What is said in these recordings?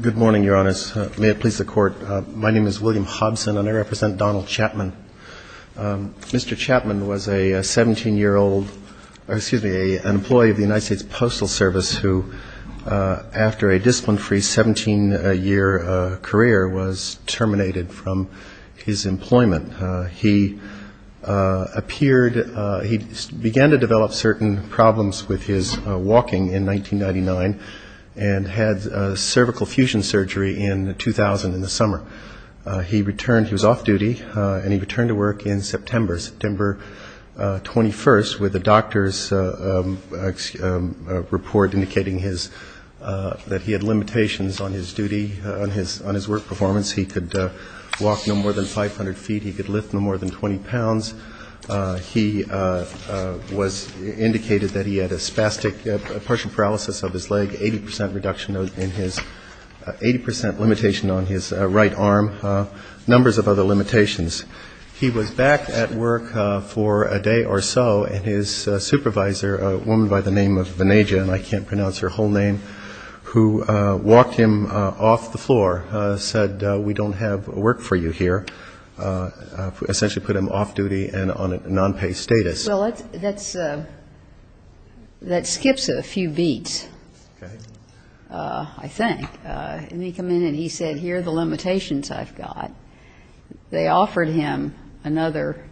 Good morning, Your Honors. May it please the Court, my name is William Hobson and I represent Donald Chapman. Mr. Chapman was a 17-year-old, excuse me, an employee of the United States Postal Service who, after a discipline-free 17-year career, was terminated from his employment. He appeared, he began to develop certain problems with his walking in 1999 and had cervical fusion surgery in 2000 in the summer. He returned, he was off duty, and he returned to work in September, September 21st, with a doctor's report indicating his, that he had limitations on his duty, on his work performance. He could walk no more than 500 feet. He could lift no more than 20 pounds. He was indicated that he had a spastic, a partial paralysis of his leg, 80 percent reduction in his, 80 percent limitation on his right arm, numbers of other limitations. He was back at work for a day or so, and his supervisor, a woman by the name of Venaja, and I can't pronounce her whole name, who walked him off the floor, said, we don't have work for you here, essentially put him off duty and on a non-pay status. Well, that's, that skips a few beats, I think. And he came in and he said, here are the limitations I've got. They offered him another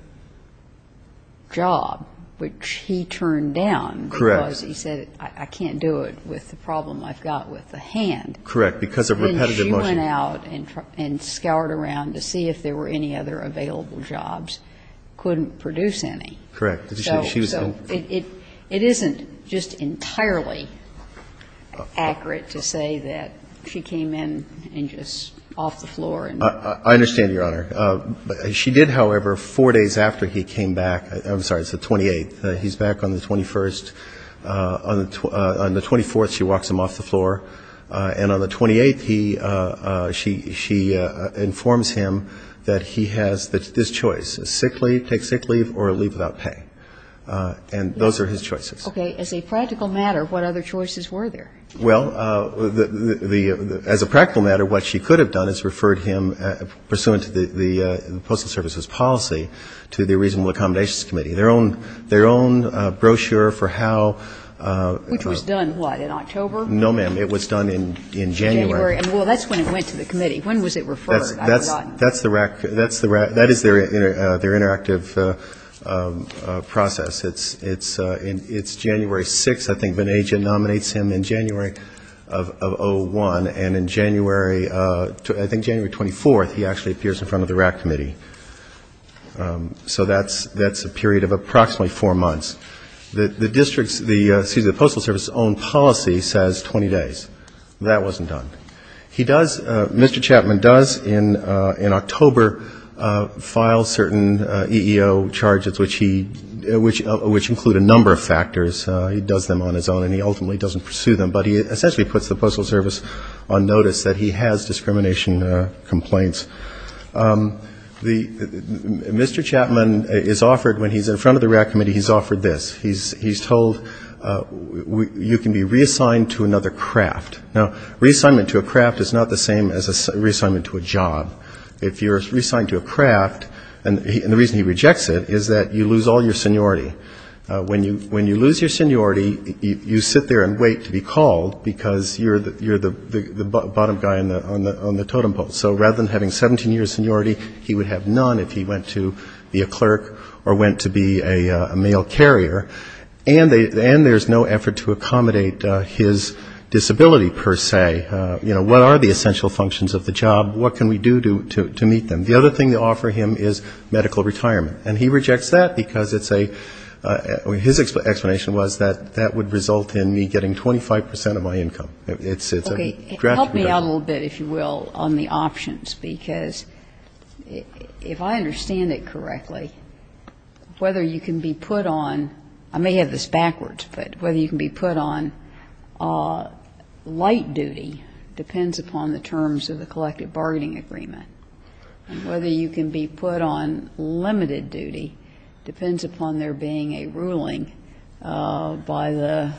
job, which he turned down. Correct. Because he said, I can't do it with the problem I've got with the hand. Correct. Because of repetitive motion. And she went out and scoured around to see if there were any other available jobs, couldn't produce any. Correct. She was in the room. So it isn't just entirely accurate to say that she came in and just off the floor and ---- I understand, Your Honor. She did, however, four days after he came back, I'm sorry, it's the 28th, he's back on the 21st, on the 24th she walks him off the floor, and on the 28th he, she informs him that he has this choice, a sick leave, take sick leave, or leave without pay. And those are his choices. Okay. As a practical matter, what other choices were there? Well, the, as a practical matter, what she could have done is referred him, pursuant to the Postal Service's policy, to the Reasonable Accommodations Committee. Their own, their own brochure for how ---- Which was done, what, in October? No, ma'am. It was done in January. January. And, well, that's when it went to the committee. When was it referred? That's the, that is their interactive process. It's January 6th, I think, that an agent nominates him in January of 01, and in January, I think January 24th, he actually appears in front of the RAC Committee. So that's, that's a period of approximately four months. The district's, the, excuse me, the Postal Service's own policy says 20 days. That wasn't done. He does, Mr. Chapman does in October file certain EEO charges, which he, which include a number of factors. He does them on his own, and he ultimately doesn't pursue them. But he essentially puts the Postal Service on notice that he has discrimination complaints. The, Mr. Chapman is offered, when he's in front of the RAC Committee, he's offered this. He's, he's told, you can be reassigned to another craft. Now, reassignment to a craft is not the same as a reassignment to a job. If you're reassigned to a craft, and the reason he rejects it is that you lose all your seniority. When you, when you lose your seniority, you sit there and wait to be called, because you're the, you're the bottom guy on the, on the totem pole. So rather than having 17 years seniority, he would have none if he went to be a clerk or went to be a mail carrier. And there's no effort to accommodate his disability, per se. You know, what are the essential functions of the job? What can we do to meet them? The other thing they offer him is medical retirement. And he rejects that because it's a, his explanation was that that would result in me getting 25 percent of my income. It's a draft reduction. Okay. Help me out a little bit, if you will, on the options. Because if I understand it correctly, whether you can be put on, I may have this backwards, but whether you can be put on light duty depends upon the terms of the collective bargaining agreement. And whether you can be put on limited duty depends upon there being a ruling by the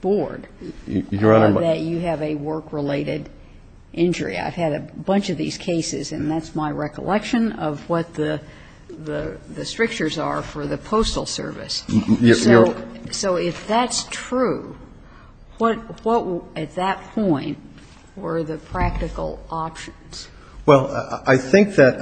board that you have a work-related injury. I've had a bunch of these cases, and that's my recollection of what the, the strictures are for the Postal Service. So if that's true, what, what at that point were the practical options? Well, I think that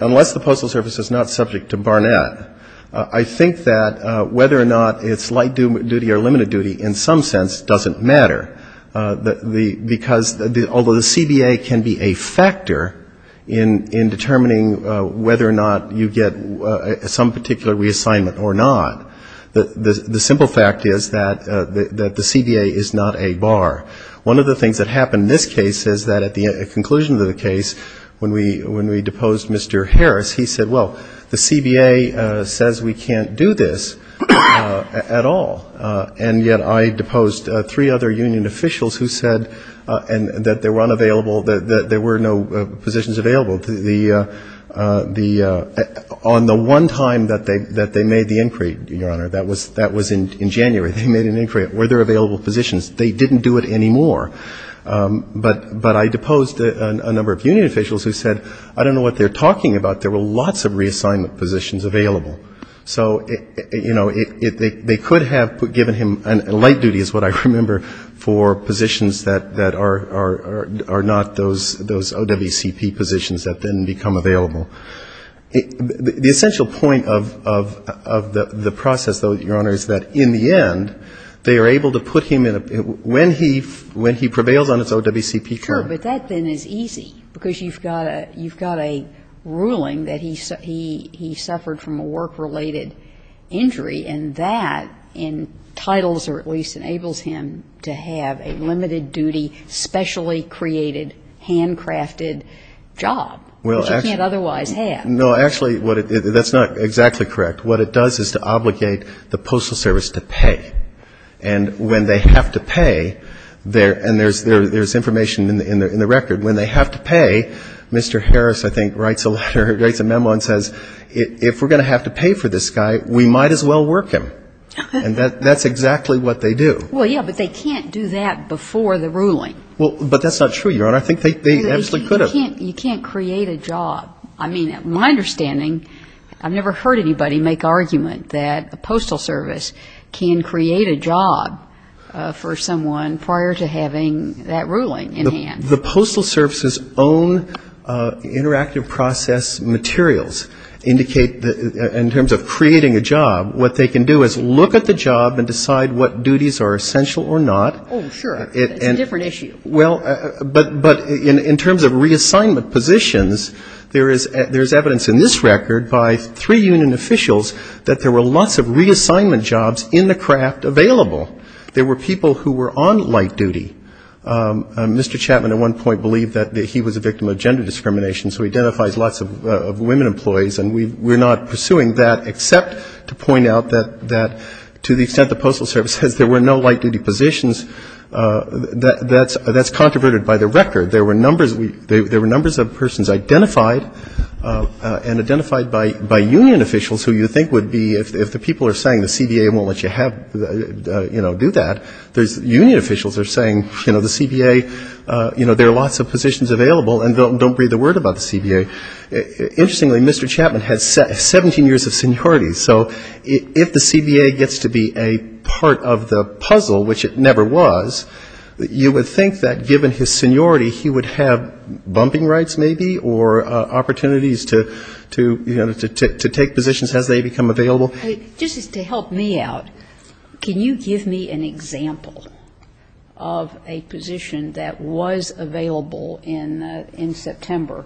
unless the Postal Service is not subject to Barnett, I think that whether or not it's light duty or limited duty in some sense doesn't matter. Because although the CBA can be a factor in determining whether or not you get some particular reassignment or not, the simple fact is that the CBA is not a bar. One of the things that happened in this case is that at the conclusion of the case, when we, when we deposed Mr. Harris, he said, well, the CBA says we can't do this at all. And yet I deposed three other union officials who said that they were unavailable, that there were no positions available. The, on the one time that they, that they made the inquiry, Your Honor, that was, that was January. They made an inquiry. Were there available positions? They didn't do it anymore. But I deposed a number of union officials who said, I don't know what they're talking about. There were lots of reassignment positions available. So it, you know, they could have given him light duty is what I remember for positions that are not those OWCP positions that then become available. The essential point of, of the process, though, Your Honor, is that in the end, they are able to put him in a, when he, when he prevails on his OWCP form. Sure. But that then is easy because you've got a, you've got a ruling that he, he, he suffered from a work-related injury, and that entitles or at least enables him to have a limited-duty, specially created, handcrafted job, which he can't otherwise have. No, actually, what it, that's not exactly correct. What it does is to obligate the Postal Service to pay. And when they have to pay, there, and there's, there's information in the, in the record. When they have to pay, Mr. Harris, I think, writes a letter, writes a memo and says, if we're going to have to pay for this guy, we might as well work him. And that, that's exactly what they do. Well, yeah, but they can't do that before the ruling. Well, but that's not true, Your Honor. I think they, they absolutely could have. But you can't, you can't create a job. I mean, my understanding, I've never heard anybody make argument that a Postal Service can create a job for someone prior to having that ruling in hand. The Postal Service's own interactive process materials indicate that in terms of creating a job, what they can do is look at the job and decide what duties are essential or not. Oh, sure. It's a different issue. Well, but, but in, in terms of reassignment positions, there is, there is evidence in this record by three union officials that there were lots of reassignment jobs in the craft available. There were people who were on light duty. Mr. Chapman at one point believed that he was a victim of gender discrimination so he identifies lots of, of women employees and we, we're not pursuing that except to point out that, that to the extent the Postal Service says there were no light duty positions, that, that's, that's controverted by the record. There were numbers, there were numbers of persons identified and identified by, by union officials who you think would be, if the people are saying the CBA won't let you have, you know, do that, there's union officials are saying, you know, the CBA, you know, there are lots of positions available and don't, don't breathe a word about the CBA. Interestingly, Mr. Chapman had 17 years of seniority. So if the CBA gets to be a part of the puzzle, which it never was, you would think that given his seniority he would have bumping rights maybe or opportunities to, to, you know, to, to take positions as they become available. Just to help me out, can you give me an example of a position that was available in, in September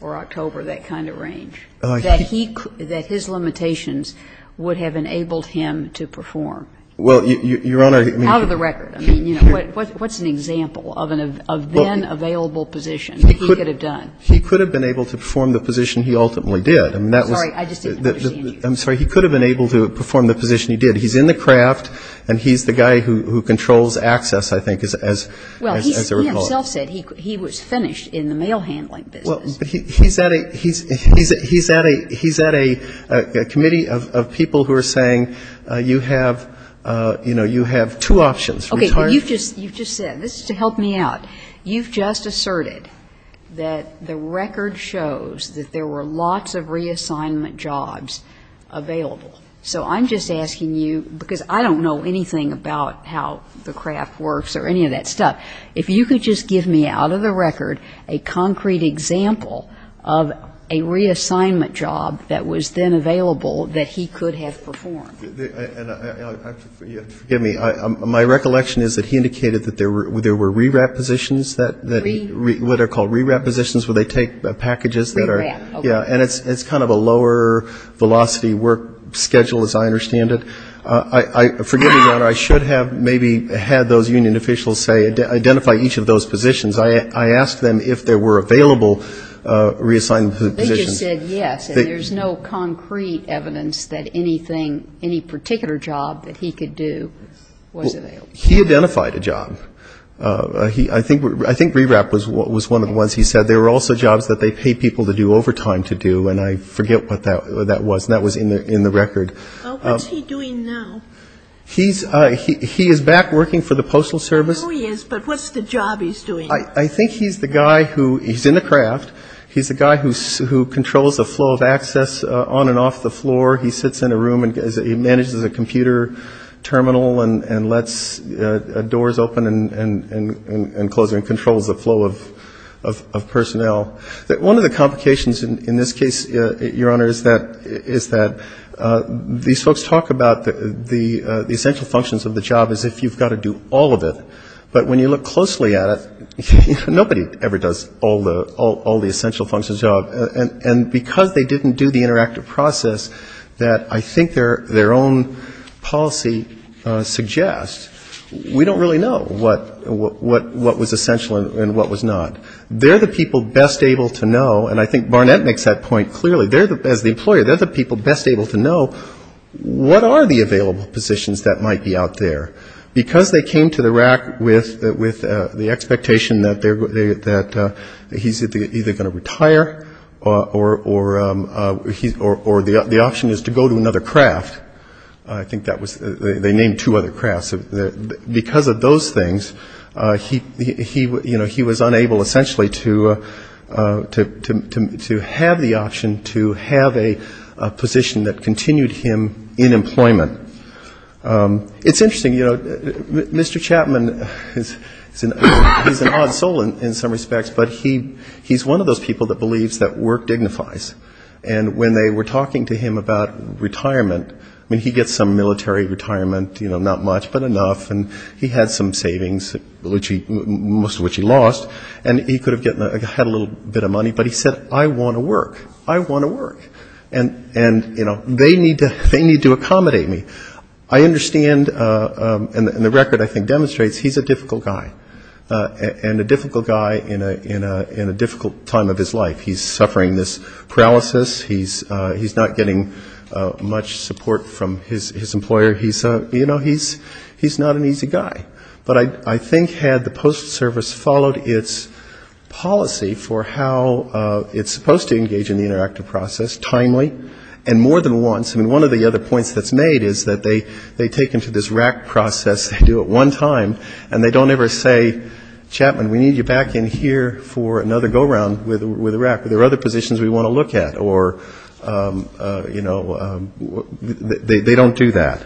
or October, that kind of range, that he, that his limitations would have enabled him to perform? Well, Your Honor, I mean. Out of the record. I mean, you know, what, what's an example of an, of then available position that he could have done? He could have been able to perform the position he ultimately did. I mean, that was. Sorry, I just didn't understand you. I'm sorry. He could have been able to perform the position he did. He's in the craft and he's the guy who, who controls access, I think, as, as, as a recall. Well, he himself said he, he was finished in the mail handling business. Well, he's at a, he's, he's, he's at a, he's at a, a committee of, of people who are saying you have, you know, you have two options. Okay. You've just, you've just said, this is to help me out. You've just asserted that the record shows that there were lots of reassignment jobs available. So I'm just asking you, because I don't know anything about how the craft works or any of that stuff, if you could just give me out of the record a concrete example of a reassignment job that was then available that he could have performed. And I, I, forgive me. My recollection is that he indicated that there were, there were re-wrap positions that, that he, what are called re-wrap positions where they take packages that are. Re-wrap, okay. Yeah. And it's, it's kind of a lower velocity work schedule as I understand it. I, I, forgive me, Your Honor. I should have maybe had those union officials say, identify each of those positions. I, I asked them if there were available reassignment positions. They just said yes. And there's no concrete evidence that anything, any particular job that he could do was available. He identified a job. He, I think, I think re-wrap was, was one of the ones he said. There were also jobs that they pay people to do overtime to do. And I forget what that, that was. And that was in the, in the record. What's he doing now? He's, he, he is back working for the Postal Service. I know he is, but what's the job he's doing? I, I think he's the guy who, he's in the craft. He's the guy who, who controls the flow of access on and off the floor. He sits in a room and he manages a computer terminal and, and lets doors open and, and, and, and close and controls the flow of, of, of personnel. One of the complications in, in this case, Your Honor, is that, is that these folks talk about the, the essential functions of the job as if you've got to do all of it. But when you look closely at it, nobody ever does all the, all the essential functions of the job. And, and because they didn't do the interactive process that I think their, their own policy suggests, we don't really know what, what, what was essential and what was not. They're the people best able to know, and I think Barnett makes that point clearly, they're the, as the employer, they're the people best able to know what are the available positions that might be out there. Because they came to the RAC with, with the expectation that they're, that he's either going to retire or, or, or he's, or, or the option is to go to another craft, I think that was, they named two other crafts. Because of those things, he, he, you know, he was unable essentially to, to, to, to have the option to have a position that continued him in employment. It's interesting, you know, Mr. Chapman is an odd soul in some respects, but he's one of those people that believes that work dignifies. And when they were talking to him about retirement, I mean, he gets some military retirement, you know, not much, not enough, and he had some savings, which he, most of which he lost, and he could have gotten, had a little bit of money, but he said, I want to work, I want to work, and, and, you know, they need to, they need to accommodate me. I understand, and the record I think demonstrates, he's a difficult guy, and a difficult guy in a, in a, in a difficult time of his life. He's suffering this paralysis, he's, he's not getting much support from his, his employer. He's a, you know, he's, he's not an easy guy. But I, I think had the post service followed its policy for how it's supposed to engage in the interactive process timely, and more than once, I mean, one of the other points that's made is that they, they take him to this RAC process, they do it one time, and they don't ever say, Chapman, we need you back in here for another go-round with, with RAC. There are other positions we want to look at, or, you know, they don't do that.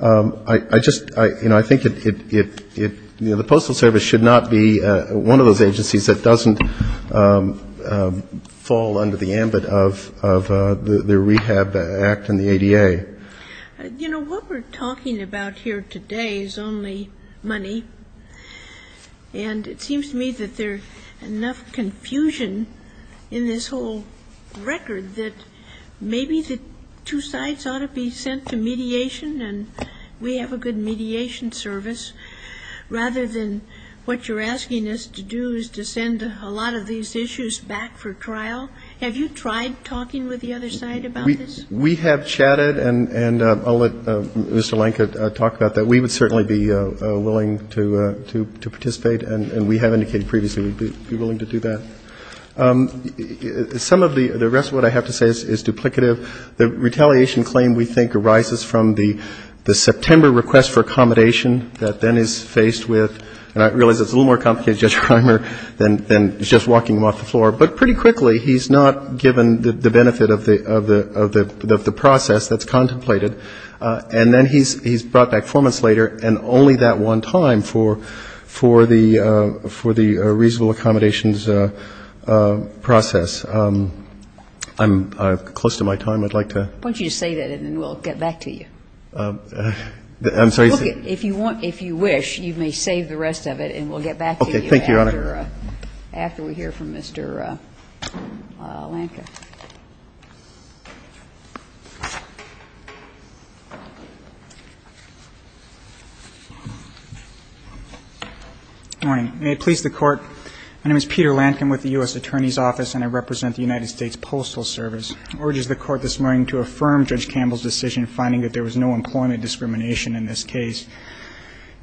I just, you know, I think it, you know, the Postal Service should not be one of those agencies that doesn't fall under the ambit of the Rehab Act and the ADA. You know, what we're talking about here today is only money, and it seems to me that there's enough confusion in the whole record that maybe the two sides ought to be sent to mediation, and we have a good mediation service, rather than what you're asking us to do is to send a lot of these issues back for trial. Have you tried talking with the other side about this? We have chatted, and I'll let Mr. Lenka talk about that. We would certainly be willing to participate, and we have indicated previously we'd be willing to do that. Some of the rest of what I have to say is duplicative. The retaliation claim, we think, arises from the September request for accommodation that then is faced with, and I realize it's a little more complicated, Judge Reimer, than just walking him off the floor, but pretty quickly he's not given the benefit of the process that's contemplated, and then he's brought back four months later, and only that one time for the reasonable accommodations process. I'm close to my time. I'd like to ---- Why don't you just say that, and then we'll get back to you. I'm sorry. If you want, if you wish, you may save the rest of it, and we'll get back to you after we hear from Mr. Lenka. Good morning. May it please the Court, my name is Peter Lankin with the U.S. Attorney's Office, and I represent the United States Postal Service. I urge the Court this morning to affirm Judge Campbell's decision finding that there was no employment discrimination in this case.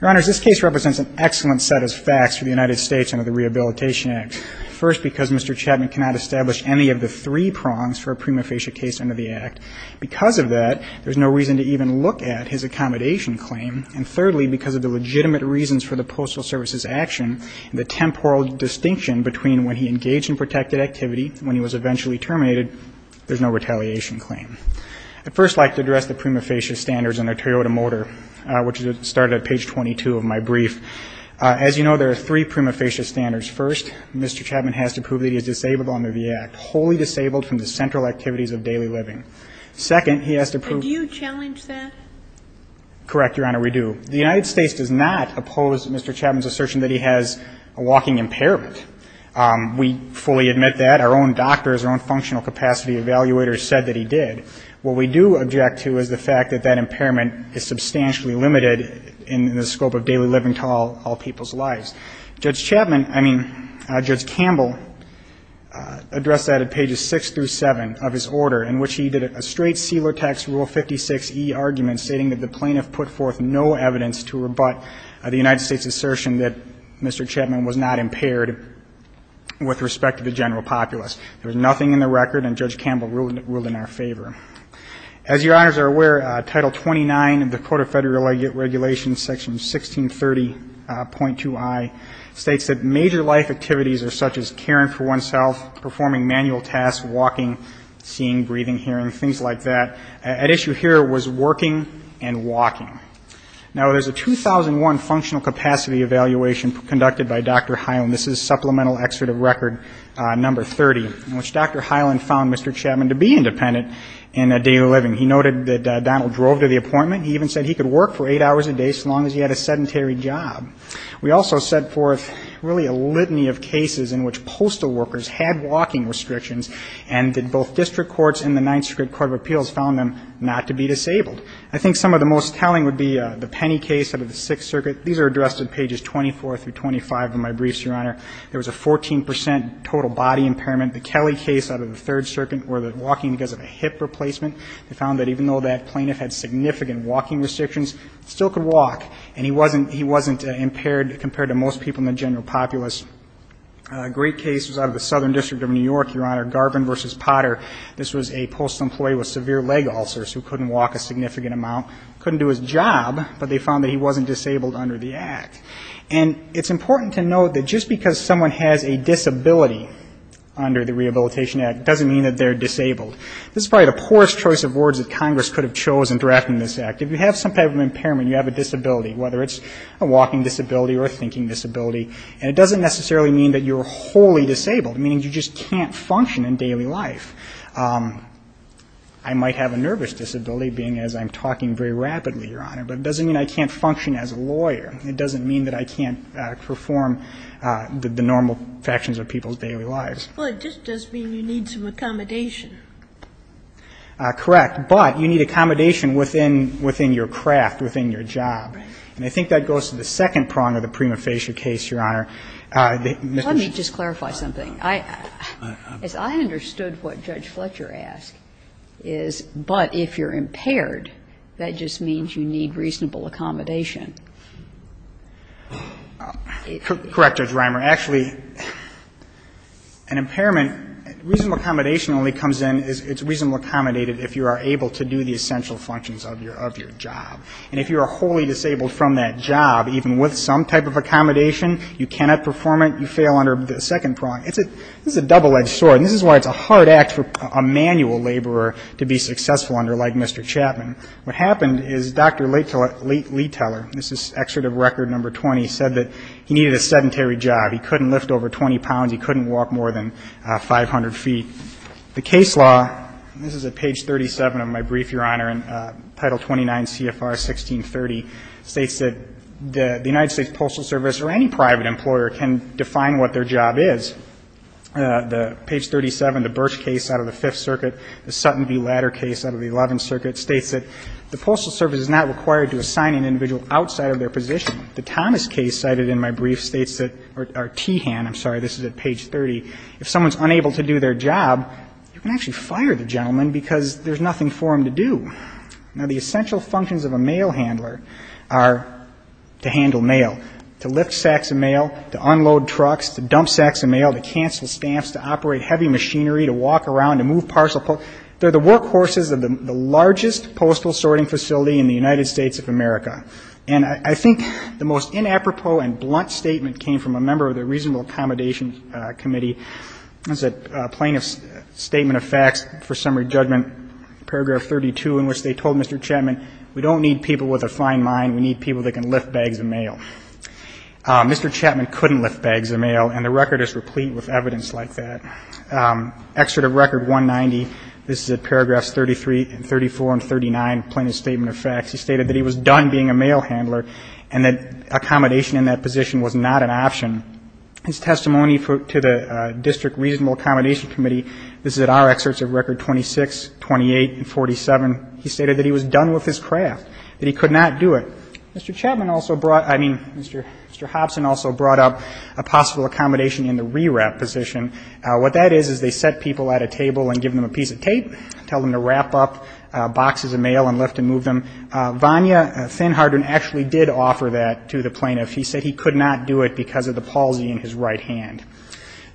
Your Honors, this case represents an excellent set of facts for the United States under the Rehabilitation Act. First, because Mr. Chapman cannot establish any of the three requirements for employment under the Rehabilitation Act, there are three prongs for a prima facie case under the Act. Because of that, there's no reason to even look at his accommodation claim. And thirdly, because of the legitimate reasons for the Postal Service's action, the temporal distinction between when he engaged in protected activity and when he was eventually terminated, there's no retaliation claim. I'd first like to address the prima facie standards under Toyota Motor, which started at page 22 of my brief. As you know, there are three prima facie standards. First, Mr. Chapman has to prove that he is disabled under the Act, wholly disabled from the central activities of daily living. Second, he has to prove that he has a walking impairment. And do you challenge that? Correct, Your Honor, we do. The United States does not oppose Mr. Chapman's assertion that he has a walking impairment. We fully admit that. Our own doctors, our own functional capacity evaluators said that he did. What we do object to is the fact that that impairment is substantially limited in the scope of daily living to all people's lives. Judge Chapman, I mean Judge Campbell, addressed that at pages 6 through 7 of his order, in which he did a straight sealer text Rule 56e argument stating that the plaintiff put forth no evidence to rebut the United States' assertion that Mr. Chapman was not impaired with respect to the general populace. There was nothing in the record, and Judge Campbell ruled in our favor. As Your Honors are aware, Title 29 of the Code of Federal Regulations, Section 1630.2i, states that major life activities are such as caring for oneself, performing manual tasks, walking, seeing, breathing, hearing, things like that. At issue here was working and walking. Now, there's a 2001 functional capacity evaluation conducted by Dr. Hyland. This is Supplemental Excerpt of Record No. 30, in which Dr. Hyland found Mr. Chapman to be independent in daily living. He noted that Donald drove to the appointment. He even said he could work for eight hours a day so long as he had a sedentary job. We also set forth really a litany of cases in which postal workers had walking restrictions and that both district courts and the Ninth Circuit Court of Appeals found them not to be disabled. I think some of the most telling would be the Penny case out of the Sixth Circuit. These are addressed in pages 24 through 25 of my briefs, Your Honor. There was a 14 percent total body impairment. The Kelly case out of the Third Circuit where the walking because of a hip replacement, they found that even though that plaintiff had significant walking restrictions, he still could walk and he wasn't impaired compared to most people in the general populace. A great case was out of the Southern District of New York, Your Honor, Garvin v. Potter. This was a postal employee with severe leg ulcers who couldn't walk a significant amount, couldn't do his job, but they found that he wasn't disabled under the Act. And it's important to note that just because someone has a disability under the Rehabilitation Act doesn't mean that they're disabled. This is probably the poorest choice of words that Congress could have chosen in drafting this Act. If you have some type of impairment, you have a disability, whether it's a walking disability or a thinking disability, and it doesn't necessarily mean that you're wholly disabled, meaning you just can't function in daily life. I might have a nervous disability, being as I'm talking very rapidly, Your Honor, but it doesn't mean I can't function as a lawyer. It doesn't mean that I can't perform the normal functions of people's daily lives. Well, it just does mean you need some accommodation. Correct. But you need accommodation within your craft, within your job. And I think that goes to the second prong of the prima facie case, Your Honor. Let me just clarify something. As I understood what Judge Fletcher asked is, but if you're impaired, that just means you need reasonable accommodation. Correct, Judge Reimer. Actually, an impairment, reasonable accommodation only comes in, it's reasonably accommodated if you are able to do the essential functions of your job. And if you are wholly disabled from that job, even with some type of accommodation, you cannot perform it, you fail under the second prong. It's a double-edged sword. And this is why it's a hard act for a manual laborer to be successful under, like Mr. Chapman. What happened is Dr. Lee Teller, this is Excerpt of Record Number 20, said that he needed a sedentary job. He couldn't lift over 20 pounds. He couldn't walk more than 500 feet. The case law, and this is at page 37 of my brief, Your Honor, in Title 29 CFR 1630, states that the United States Postal Service or any private employer can define what their job is. Page 37, the Birch case out of the Fifth Circuit, the Sutton v. Ladder case out of the Eleventh Circuit states that the Postal Service is not required to assign an individual outside of their position. The Thomas case cited in my brief states that, or Tehan, I'm sorry, this is at page 30, if someone's unable to do their job, you can actually fire the gentleman because there's nothing for him to do. Now, the essential functions of a mail handler are to handle mail, to lift sacks of mail, to unload trucks, to dump sacks of mail, to cancel stamps, to operate heavy machinery, to walk around, to move parcels. They're the workhorses of the largest postal sorting facility in the United States of America. And I think the most inapropos and blunt statement came from a member of the Reasonable Accommodation Committee. This is a plaintiff's statement of facts for summary judgment, paragraph 32, in which they told Mr. Chapman, we don't need people with a fine mind. We need people that can lift bags of mail. Mr. Chapman couldn't lift bags of mail, and the record is replete with evidence like that. Excerpt of record 190, this is at paragraphs 33 and 34 and 39, plaintiff's statement of facts. He stated that he was done being a mail handler and that accommodation in that position was not an option. His testimony to the District Reasonable Accommodation Committee, this is at our excerpts of record 26, 28, and 47. He stated that he was done with his craft, that he could not do it. Mr. Chapman also brought, I mean, Mr. Hobson also brought up a possible accommodation in the re-wrap position. What that is, is they set people at a table and give them a piece of tape, tell them to wrap up boxes of mail and lift and move them. Vanya Thinharden actually did offer that to the plaintiff. He said he could not do it because of the palsy in his right hand.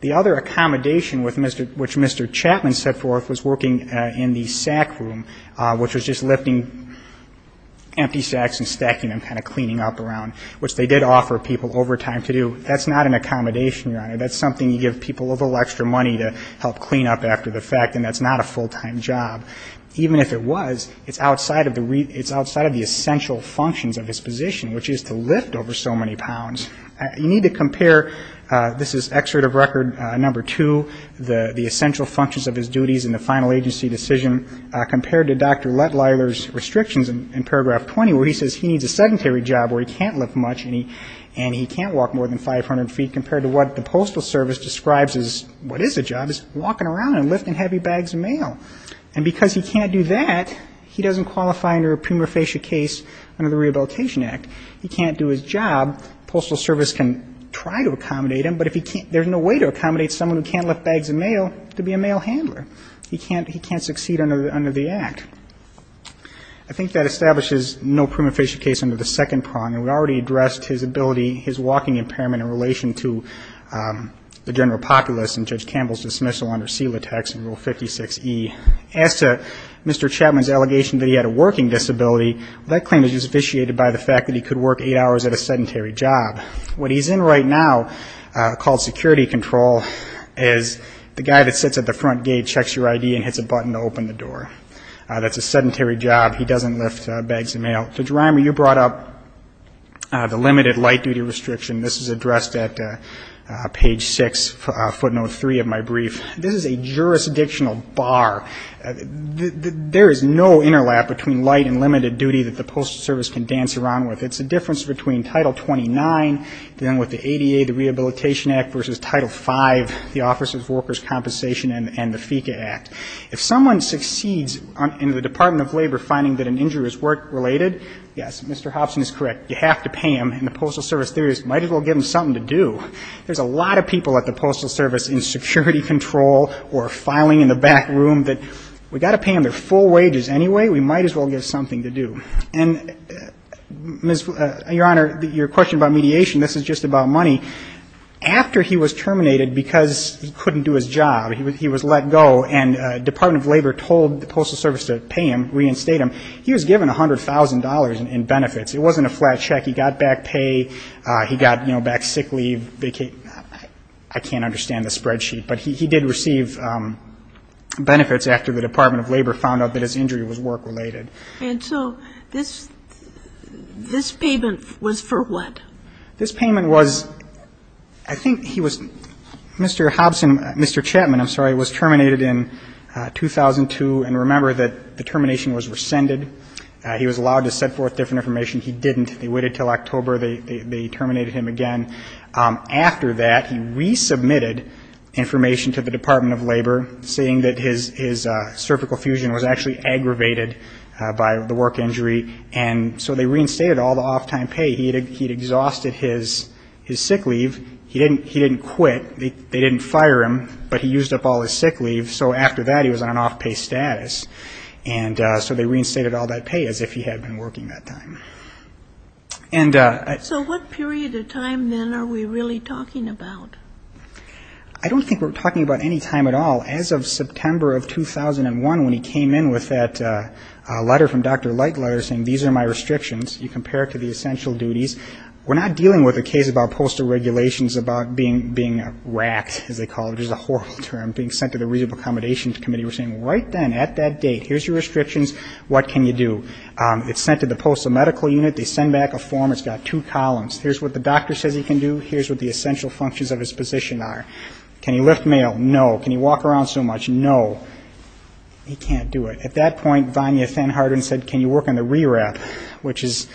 The other accommodation which Mr. Chapman set forth was working in the sack room, which was just lifting empty sacks and stacking them, kind of cleaning up around, which they did offer people overtime to do. That's not an accommodation, Your Honor. That's something you give people a little extra money to help clean up after the fact, and that's not a full-time job. Even if it was, it's outside of the essential functions of his position, which is to lift over so many pounds. You need to compare, this is excerpt of record number two, the essential functions of his duties in the final agency decision, compared to Dr. Lettliler's restrictions in paragraph 20 where he says he needs a sedentary job where he can't lift much and he can't walk more than 500 feet compared to what the Postal Service describes as what is a job, which is walking around and lifting heavy bags of mail. And because he can't do that, he doesn't qualify under a prima facie case under the Rehabilitation Act. He can't do his job. The Postal Service can try to accommodate him, but if he can't, there's no way to accommodate someone who can't lift bags of mail to be a mail handler. He can't succeed under the Act. I think that establishes no prima facie case under the second prong, and we already addressed his ability, his walking impairment in relation to the general populace and Judge Campbell's dismissal under CELA text in Rule 56E. As to Mr. Chapman's allegation that he had a working disability, that claim is just officiated by the fact that he could work eight hours at a sedentary job. What he's in right now, called security control, is the guy that sits at the front gate, checks your ID, and hits a button to open the door. That's a sedentary job. He doesn't lift bags of mail. Judge Reimer, you brought up the limited light duty restriction. This is addressed at page 6, footnote 3 of my brief. This is a jurisdictional bar. There is no interlap between light and limited duty that the Postal Service can dance around with. It's a difference between Title 29, then with the ADA, the Rehabilitation Act, versus Title 5, the Office of Workers' Compensation, and the FECA Act. If someone succeeds in the Department of Labor finding that an injury is work-related, yes, Mr. Hobson is correct. You have to pay them. And the Postal Service theorist might as well give them something to do. There's a lot of people at the Postal Service in security control or filing in the back room that we've got to pay them their full wages anyway. We might as well give them something to do. And, Your Honor, your question about mediation, this is just about money. After he was terminated because he couldn't do his job, he was let go, and the Department of Labor told the Postal Service to pay him, reinstate him, he was given $100,000 in benefits. It wasn't a flat check. He got back pay. He got back sick leave. I can't understand the spreadsheet. But he did receive benefits after the Department of Labor found out that his injury was work-related. And so this payment was for what? This payment was, I think he was, Mr. Hobson, Mr. Chapman, I'm sorry, was terminated in 2002. And remember that the termination was rescinded. He was allowed to send forth different information. He didn't. They waited until October. They terminated him again. After that, he resubmitted information to the Department of Labor, saying that his cervical fusion was actually aggravated by the work injury. And so they reinstated all the off-time pay. He had exhausted his sick leave. He didn't quit. They didn't fire him, but he used up all his sick leave. So after that, he was on an off-pay status. And so they reinstated all that pay as if he had been working that time. So what period of time, then, are we really talking about? I don't think we're talking about any time at all. As of September of 2001, when he came in with that letter from Dr. Lightletter saying, these are my restrictions. You compare it to the essential duties. We're not dealing with a case about postal regulations, about being racked, as they call it. It's a horrible term. Being sent to the reasonable accommodations committee. We're saying, right then, at that date, here's your restrictions. What can you do? It's sent to the postal medical unit. They send back a form. It's got two columns. Here's what the doctor says he can do. Here's what the essential functions of his position are. Can he lift mail? No. Can he walk around so much? No. He can't do it. At that point, Vania Thanharden said, can you work on the re-wrap, which is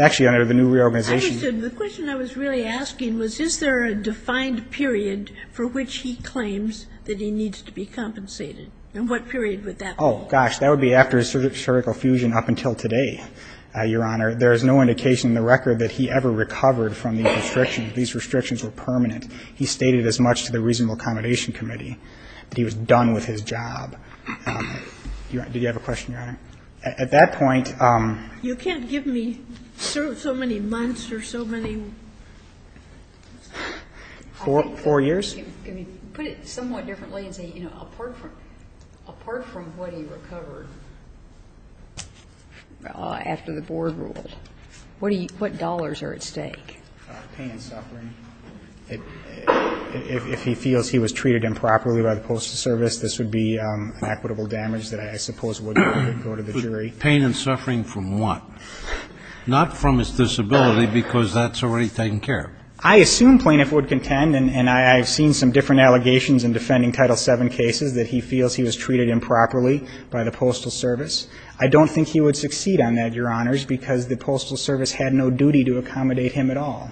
actually under the new reorganization. I understand. The question I was really asking was, is there a defined period for which he claims that he needs to be compensated? And what period would that be? Oh, gosh. That would be after his surgical fusion up until today, Your Honor. There is no indication in the record that he ever recovered from these restrictions. These restrictions were permanent. He stated as much to the reasonable accommodation committee that he was done with his job. Do you have a question, Your Honor? At that point ---- You can't give me so many months or so many ---- Four years? Can you put it somewhat differently and say, you know, apart from what he recovered after the board rule, what dollars are at stake? Pay and suffering. If he feels he was treated improperly by the Postal Service, this would be an equitable damage that I suppose would go to the jury. Pay and suffering from what? Not from his disability, because that's already taken care of. I assume Plaintiff would contend, and I've seen some different allegations in defending Title VII cases, that he feels he was treated improperly by the Postal Service. I don't think he would succeed on that, Your Honors, because the Postal Service had no duty to accommodate him at all.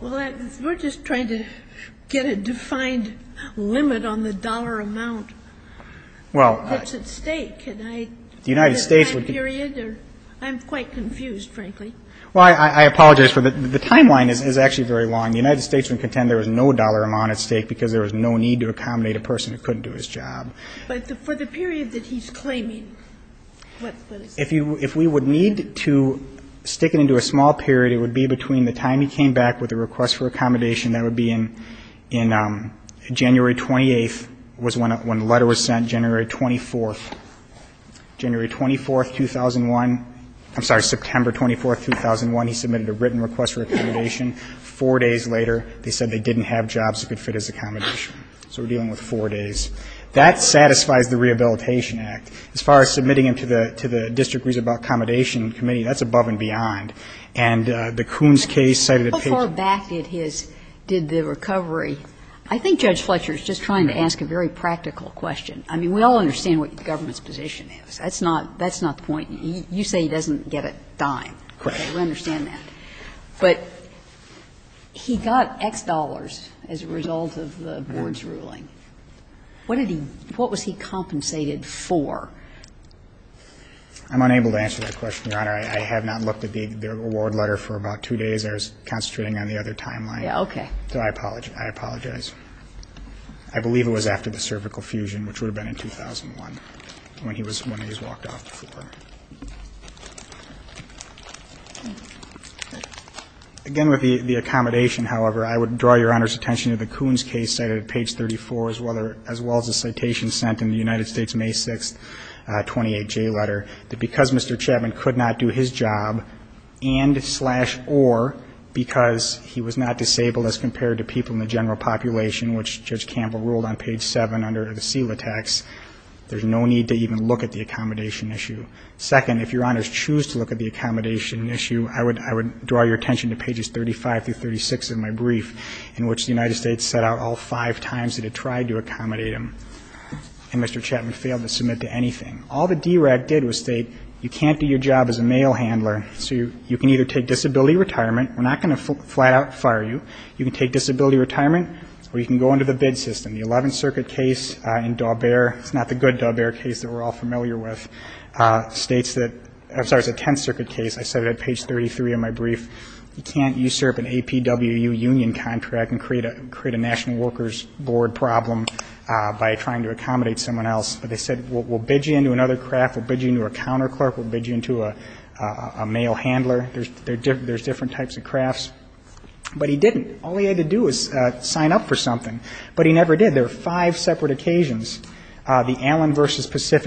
Well, we're just trying to get a defined limit on the dollar amount that's at stake. Can I ---- The United States would ---- I'm quite confused, frankly. Well, I apologize for that. The timeline is actually very long. The United States would contend there was no dollar amount at stake because there was no need to accommodate a person who couldn't do his job. But for the period that he's claiming, what is that? If we would need to stick it into a small period, it would be between the time he came back with a request for accommodation, that would be in January 28th was when the letter was sent, January 24th. January 24th, 2001 ---- I'm sorry, September 24th, 2001, he submitted a written request for accommodation. Four days later, they said they didn't have jobs that could fit his accommodation. So we're dealing with four days. That satisfies the Rehabilitation Act. As far as submitting him to the district reasonable accommodation committee, that's above and beyond. And the Coons case cited a ---- How far back did his ---- did the recovery? I think Judge Fletcher is just trying to ask a very practical question. I mean, we all understand what the government's position is. That's not the point. You say he doesn't get a dime. Correct. We understand that. But he got X dollars as a result of the board's ruling. What did he ---- what was he compensated for? I'm unable to answer that question, Your Honor. I have not looked at the award letter for about two days. I was concentrating on the other timeline. Yeah, okay. So I apologize. I believe it was after the cervical fusion, which would have been in 2001, when he was ---- when he was walked off the floor. Again, with the accommodation, however, I would draw Your Honor's attention to the Coons case cited at page 34, as well as the citation sent in the United States May 6th 28J letter, that because Mr. Chapman could not do his job and slash or because he was not disabled as compared to people in the general population, which Judge Campbell ruled on page 7 under the SELA tax, there's no need to even look at the accommodation issue. Second, if Your Honors choose to look at the accommodation issue, I would draw your attention to pages 35 through 36 of my brief, in which the United States set out all five times it had tried to accommodate him, and Mr. Chapman failed to submit to anything. All the DRAC did was state you can't do your job as a mail handler, so you can either take disability retirement. We're not going to flat out fire you. You can take disability retirement or you can go into the bid system. The 11th Circuit case in Daubert, it's not the good Daubert case that we're all familiar with, states that ---- I'm sorry, it's the 10th Circuit case. I said it at page 33 of my brief. You can't usurp an APWU union contract and create a National Workers Board problem by trying to accommodate someone else. But they said we'll bid you into another craft, we'll bid you into a counterclerk, we'll bid you into a mail handler. There's different types of crafts. But he didn't. All he had to do was sign up for something. But he never did. There were five separate occasions. States that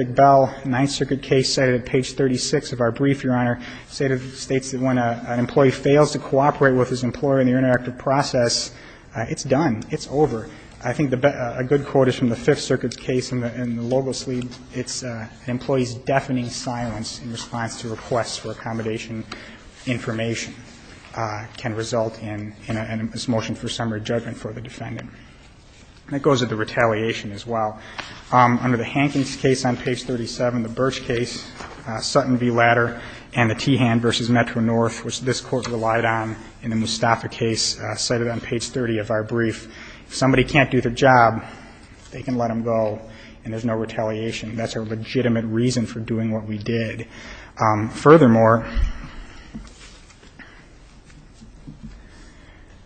when an employee fails to cooperate with his employer in the interactive process, it's done. It's over. I think a good quote is from the Fifth Circuit's case in the logo sleeve. It's an employee's deafening silence in response to requests for accommodation information can result in a motion for summary judgment for the defendant. And it goes with the retaliation as well. Under the Hankins case on page 37, the Birch case, Sutton v. Ladder, and the Tehan v. Metro-North, which this Court relied on in the Mustafa case cited on page 30 of our brief, if somebody can't do their job, they can let them go and there's no retaliation. That's a legitimate reason for doing what we did. Furthermore,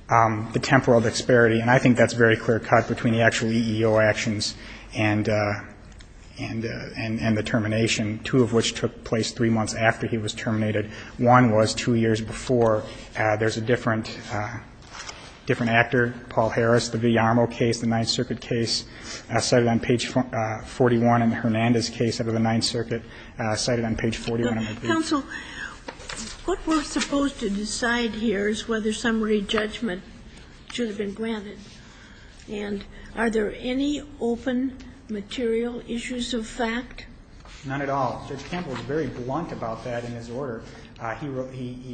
the temporal disparity, and I think that's a very clear cut between the actual EEO actions and the termination, two of which took place three months after he was terminated. One was two years before. There's a different actor, Paul Harris, the Villarmo case, the Ninth Circuit case cited on page 41, and the Hernandez case under the Ninth Circuit cited on page 41 of our brief. Counsel, what we're supposed to decide here is whether summary judgment should have been granted. And are there any open material issues of fact? None at all. Judge Campbell is very blunt about that in his order. He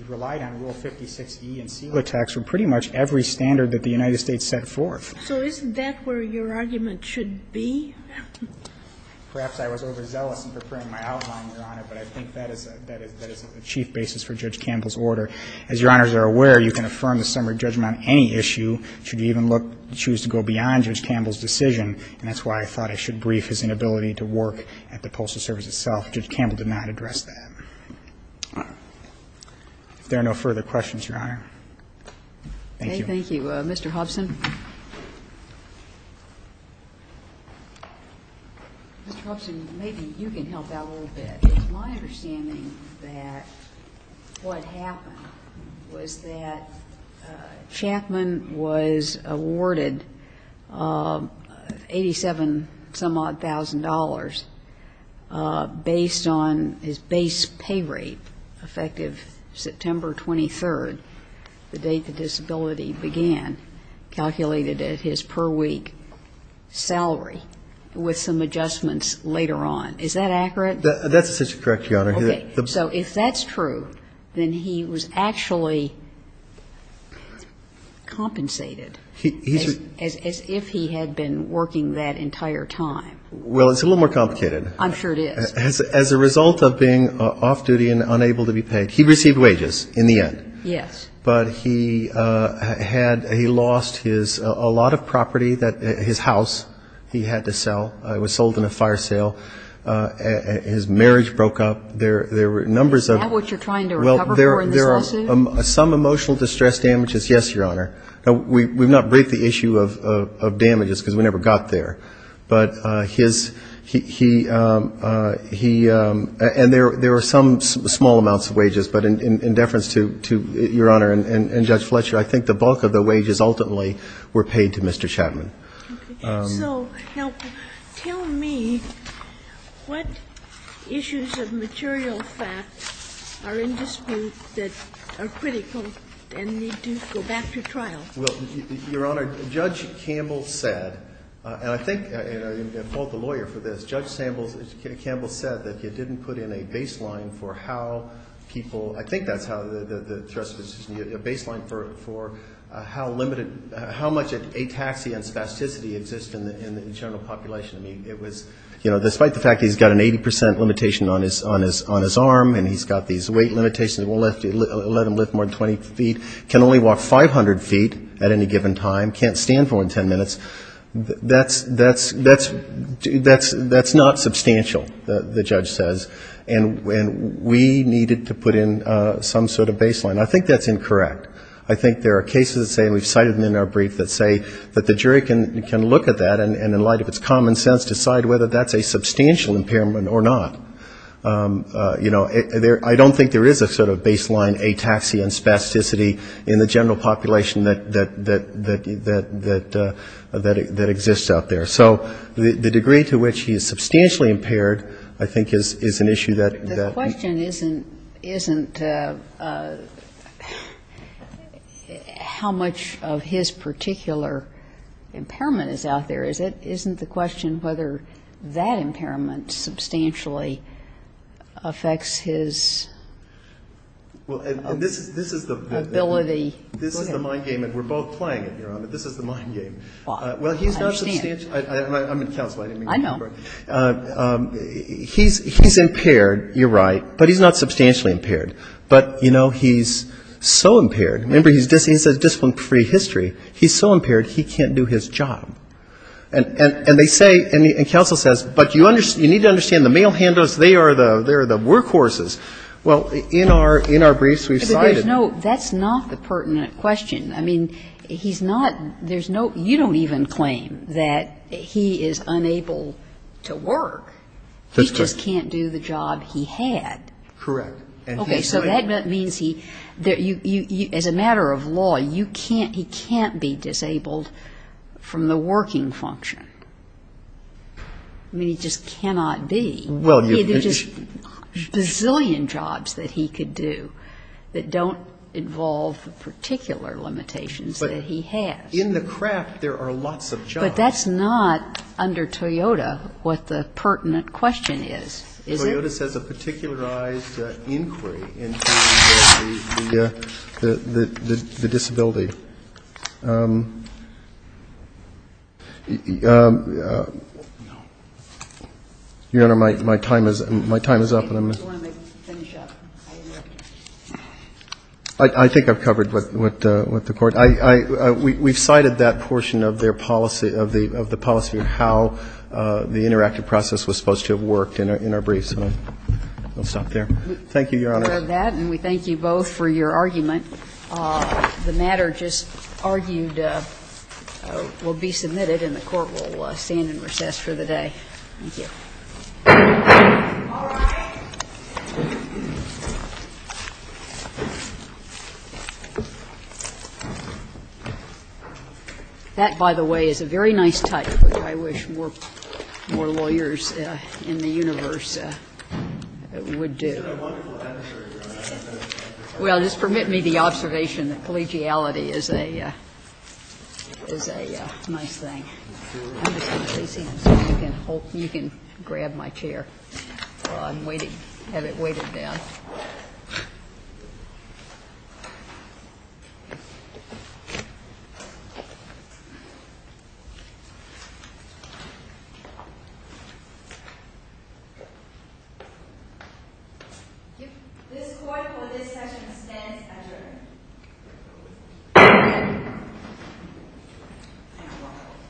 relied on Rule 56e in SILA tax for pretty much every standard that the United States set forth. So isn't that where your argument should be? Perhaps I was overzealous in preparing my outline, Your Honor, but I think that is a chief basis for Judge Campbell's order. As Your Honors are aware, you can affirm the summary judgment on any issue should you even look, choose to go beyond Judge Campbell's decision, and that's why I thought I should brief his inability to work at the Postal Service itself. Judge Campbell did not address that. If there are no further questions, Your Honor. Thank you. Thank you. Mr. Hobson. Mr. Hobson, maybe you can help out a little bit. My understanding that what happened was that Chapman was awarded $87-some-odd thousand based on his base pay rate, effective September 23rd, the date the disability began, calculated at his per week salary, with some adjustments later on. Is that accurate? That's essentially correct, Your Honor. Okay. So if that's true, then he was actually compensated as if he had been working that entire time. Well, it's a little more complicated. I'm sure it is. As a result of being off-duty and unable to be paid, he received wages in the end. Yes. But he had he lost his a lot of property, his house he had to sell. It was sold in a fire sale. His marriage broke up. There were numbers of --. Is that what you're trying to recover for in this lawsuit? Well, there are some emotional distress damages, yes, Your Honor. We've not briefed the issue of damages because we never got there. But his he and there were some small amounts of wages. But in deference to Your Honor and Judge Fletcher, I think the bulk of the wages ultimately were paid to Mr. Chapman. Okay. So now tell me what issues of material fact are in dispute that are critical and need to go back to trial? Well, Your Honor, Judge Campbell said, and I think I fault the lawyer for this. Judge Campbell said that you didn't put in a baseline for how people ‑‑ I think that's how the Justice ‑‑ a baseline for how limited ‑‑ how much ataxia and spasticity exist in the general population. I mean, it was, you know, despite the fact he's got an 80% limitation on his arm and he's got these weight limitations, we'll let him lift more than 20 feet, can only walk 500 feet at any given time, can't stand for more than 10 minutes, that's not substantial, the judge says. And we needed to put in some sort of baseline. I think that's incorrect. I think there are cases that say, and we've cited them in our brief, that say that the jury can look at that and in light of its common sense decide whether that's a substantial impairment or not. You know, I don't think there is a sort of baseline ataxia and spasticity in the general population that exists out there. So the degree to which he is substantially impaired, I think, is an issue that ‑‑ how much of his particular impairment is out there. Isn't the question whether that impairment substantially affects his ability? This is the mind game, and we're both playing it here on it. This is the mind game. Well, he's not substantially ‑‑ I'm in counsel, I didn't mean to interrupt. I know. He's impaired, you're right, but he's not substantially impaired. But, you know, he's so impaired. Remember, he says discipline-free history. He's so impaired he can't do his job. And they say, and counsel says, but you need to understand the male handlers, they are the workhorses. Well, in our briefs we've cited ‑‑ But that's not the pertinent question. I mean, he's not ‑‑ you don't even claim that he is unable to work. He just can't do the job he had. Correct. Okay, so that means he, as a matter of law, he can't be disabled from the working function. I mean, he just cannot be. There are just a bazillion jobs that he could do that don't involve the particular limitations that he has. But in the craft there are lots of jobs. But that's not, under Toyota, what the pertinent question is, is it? Toyota says a particularized inquiry into the disability. Your Honor, my time is up. I just want to finish up. I think I've covered what the court ‑‑ we've cited that portion of their policy, of the policy the interactive process was supposed to have worked in our briefs. So I'll stop there. Thank you, Your Honor. We thank you both for your argument. The matter just argued will be submitted and the court will stand in recess for the day. Thank you. All rise. That, by the way, is a very nice touch, which I wish more lawyers in the universe would do. Well, just permit me the observation that collegiality is a nice thing. You can grab my chair while I'm waiting. Have it weighted down. This court for this session stands adjourned.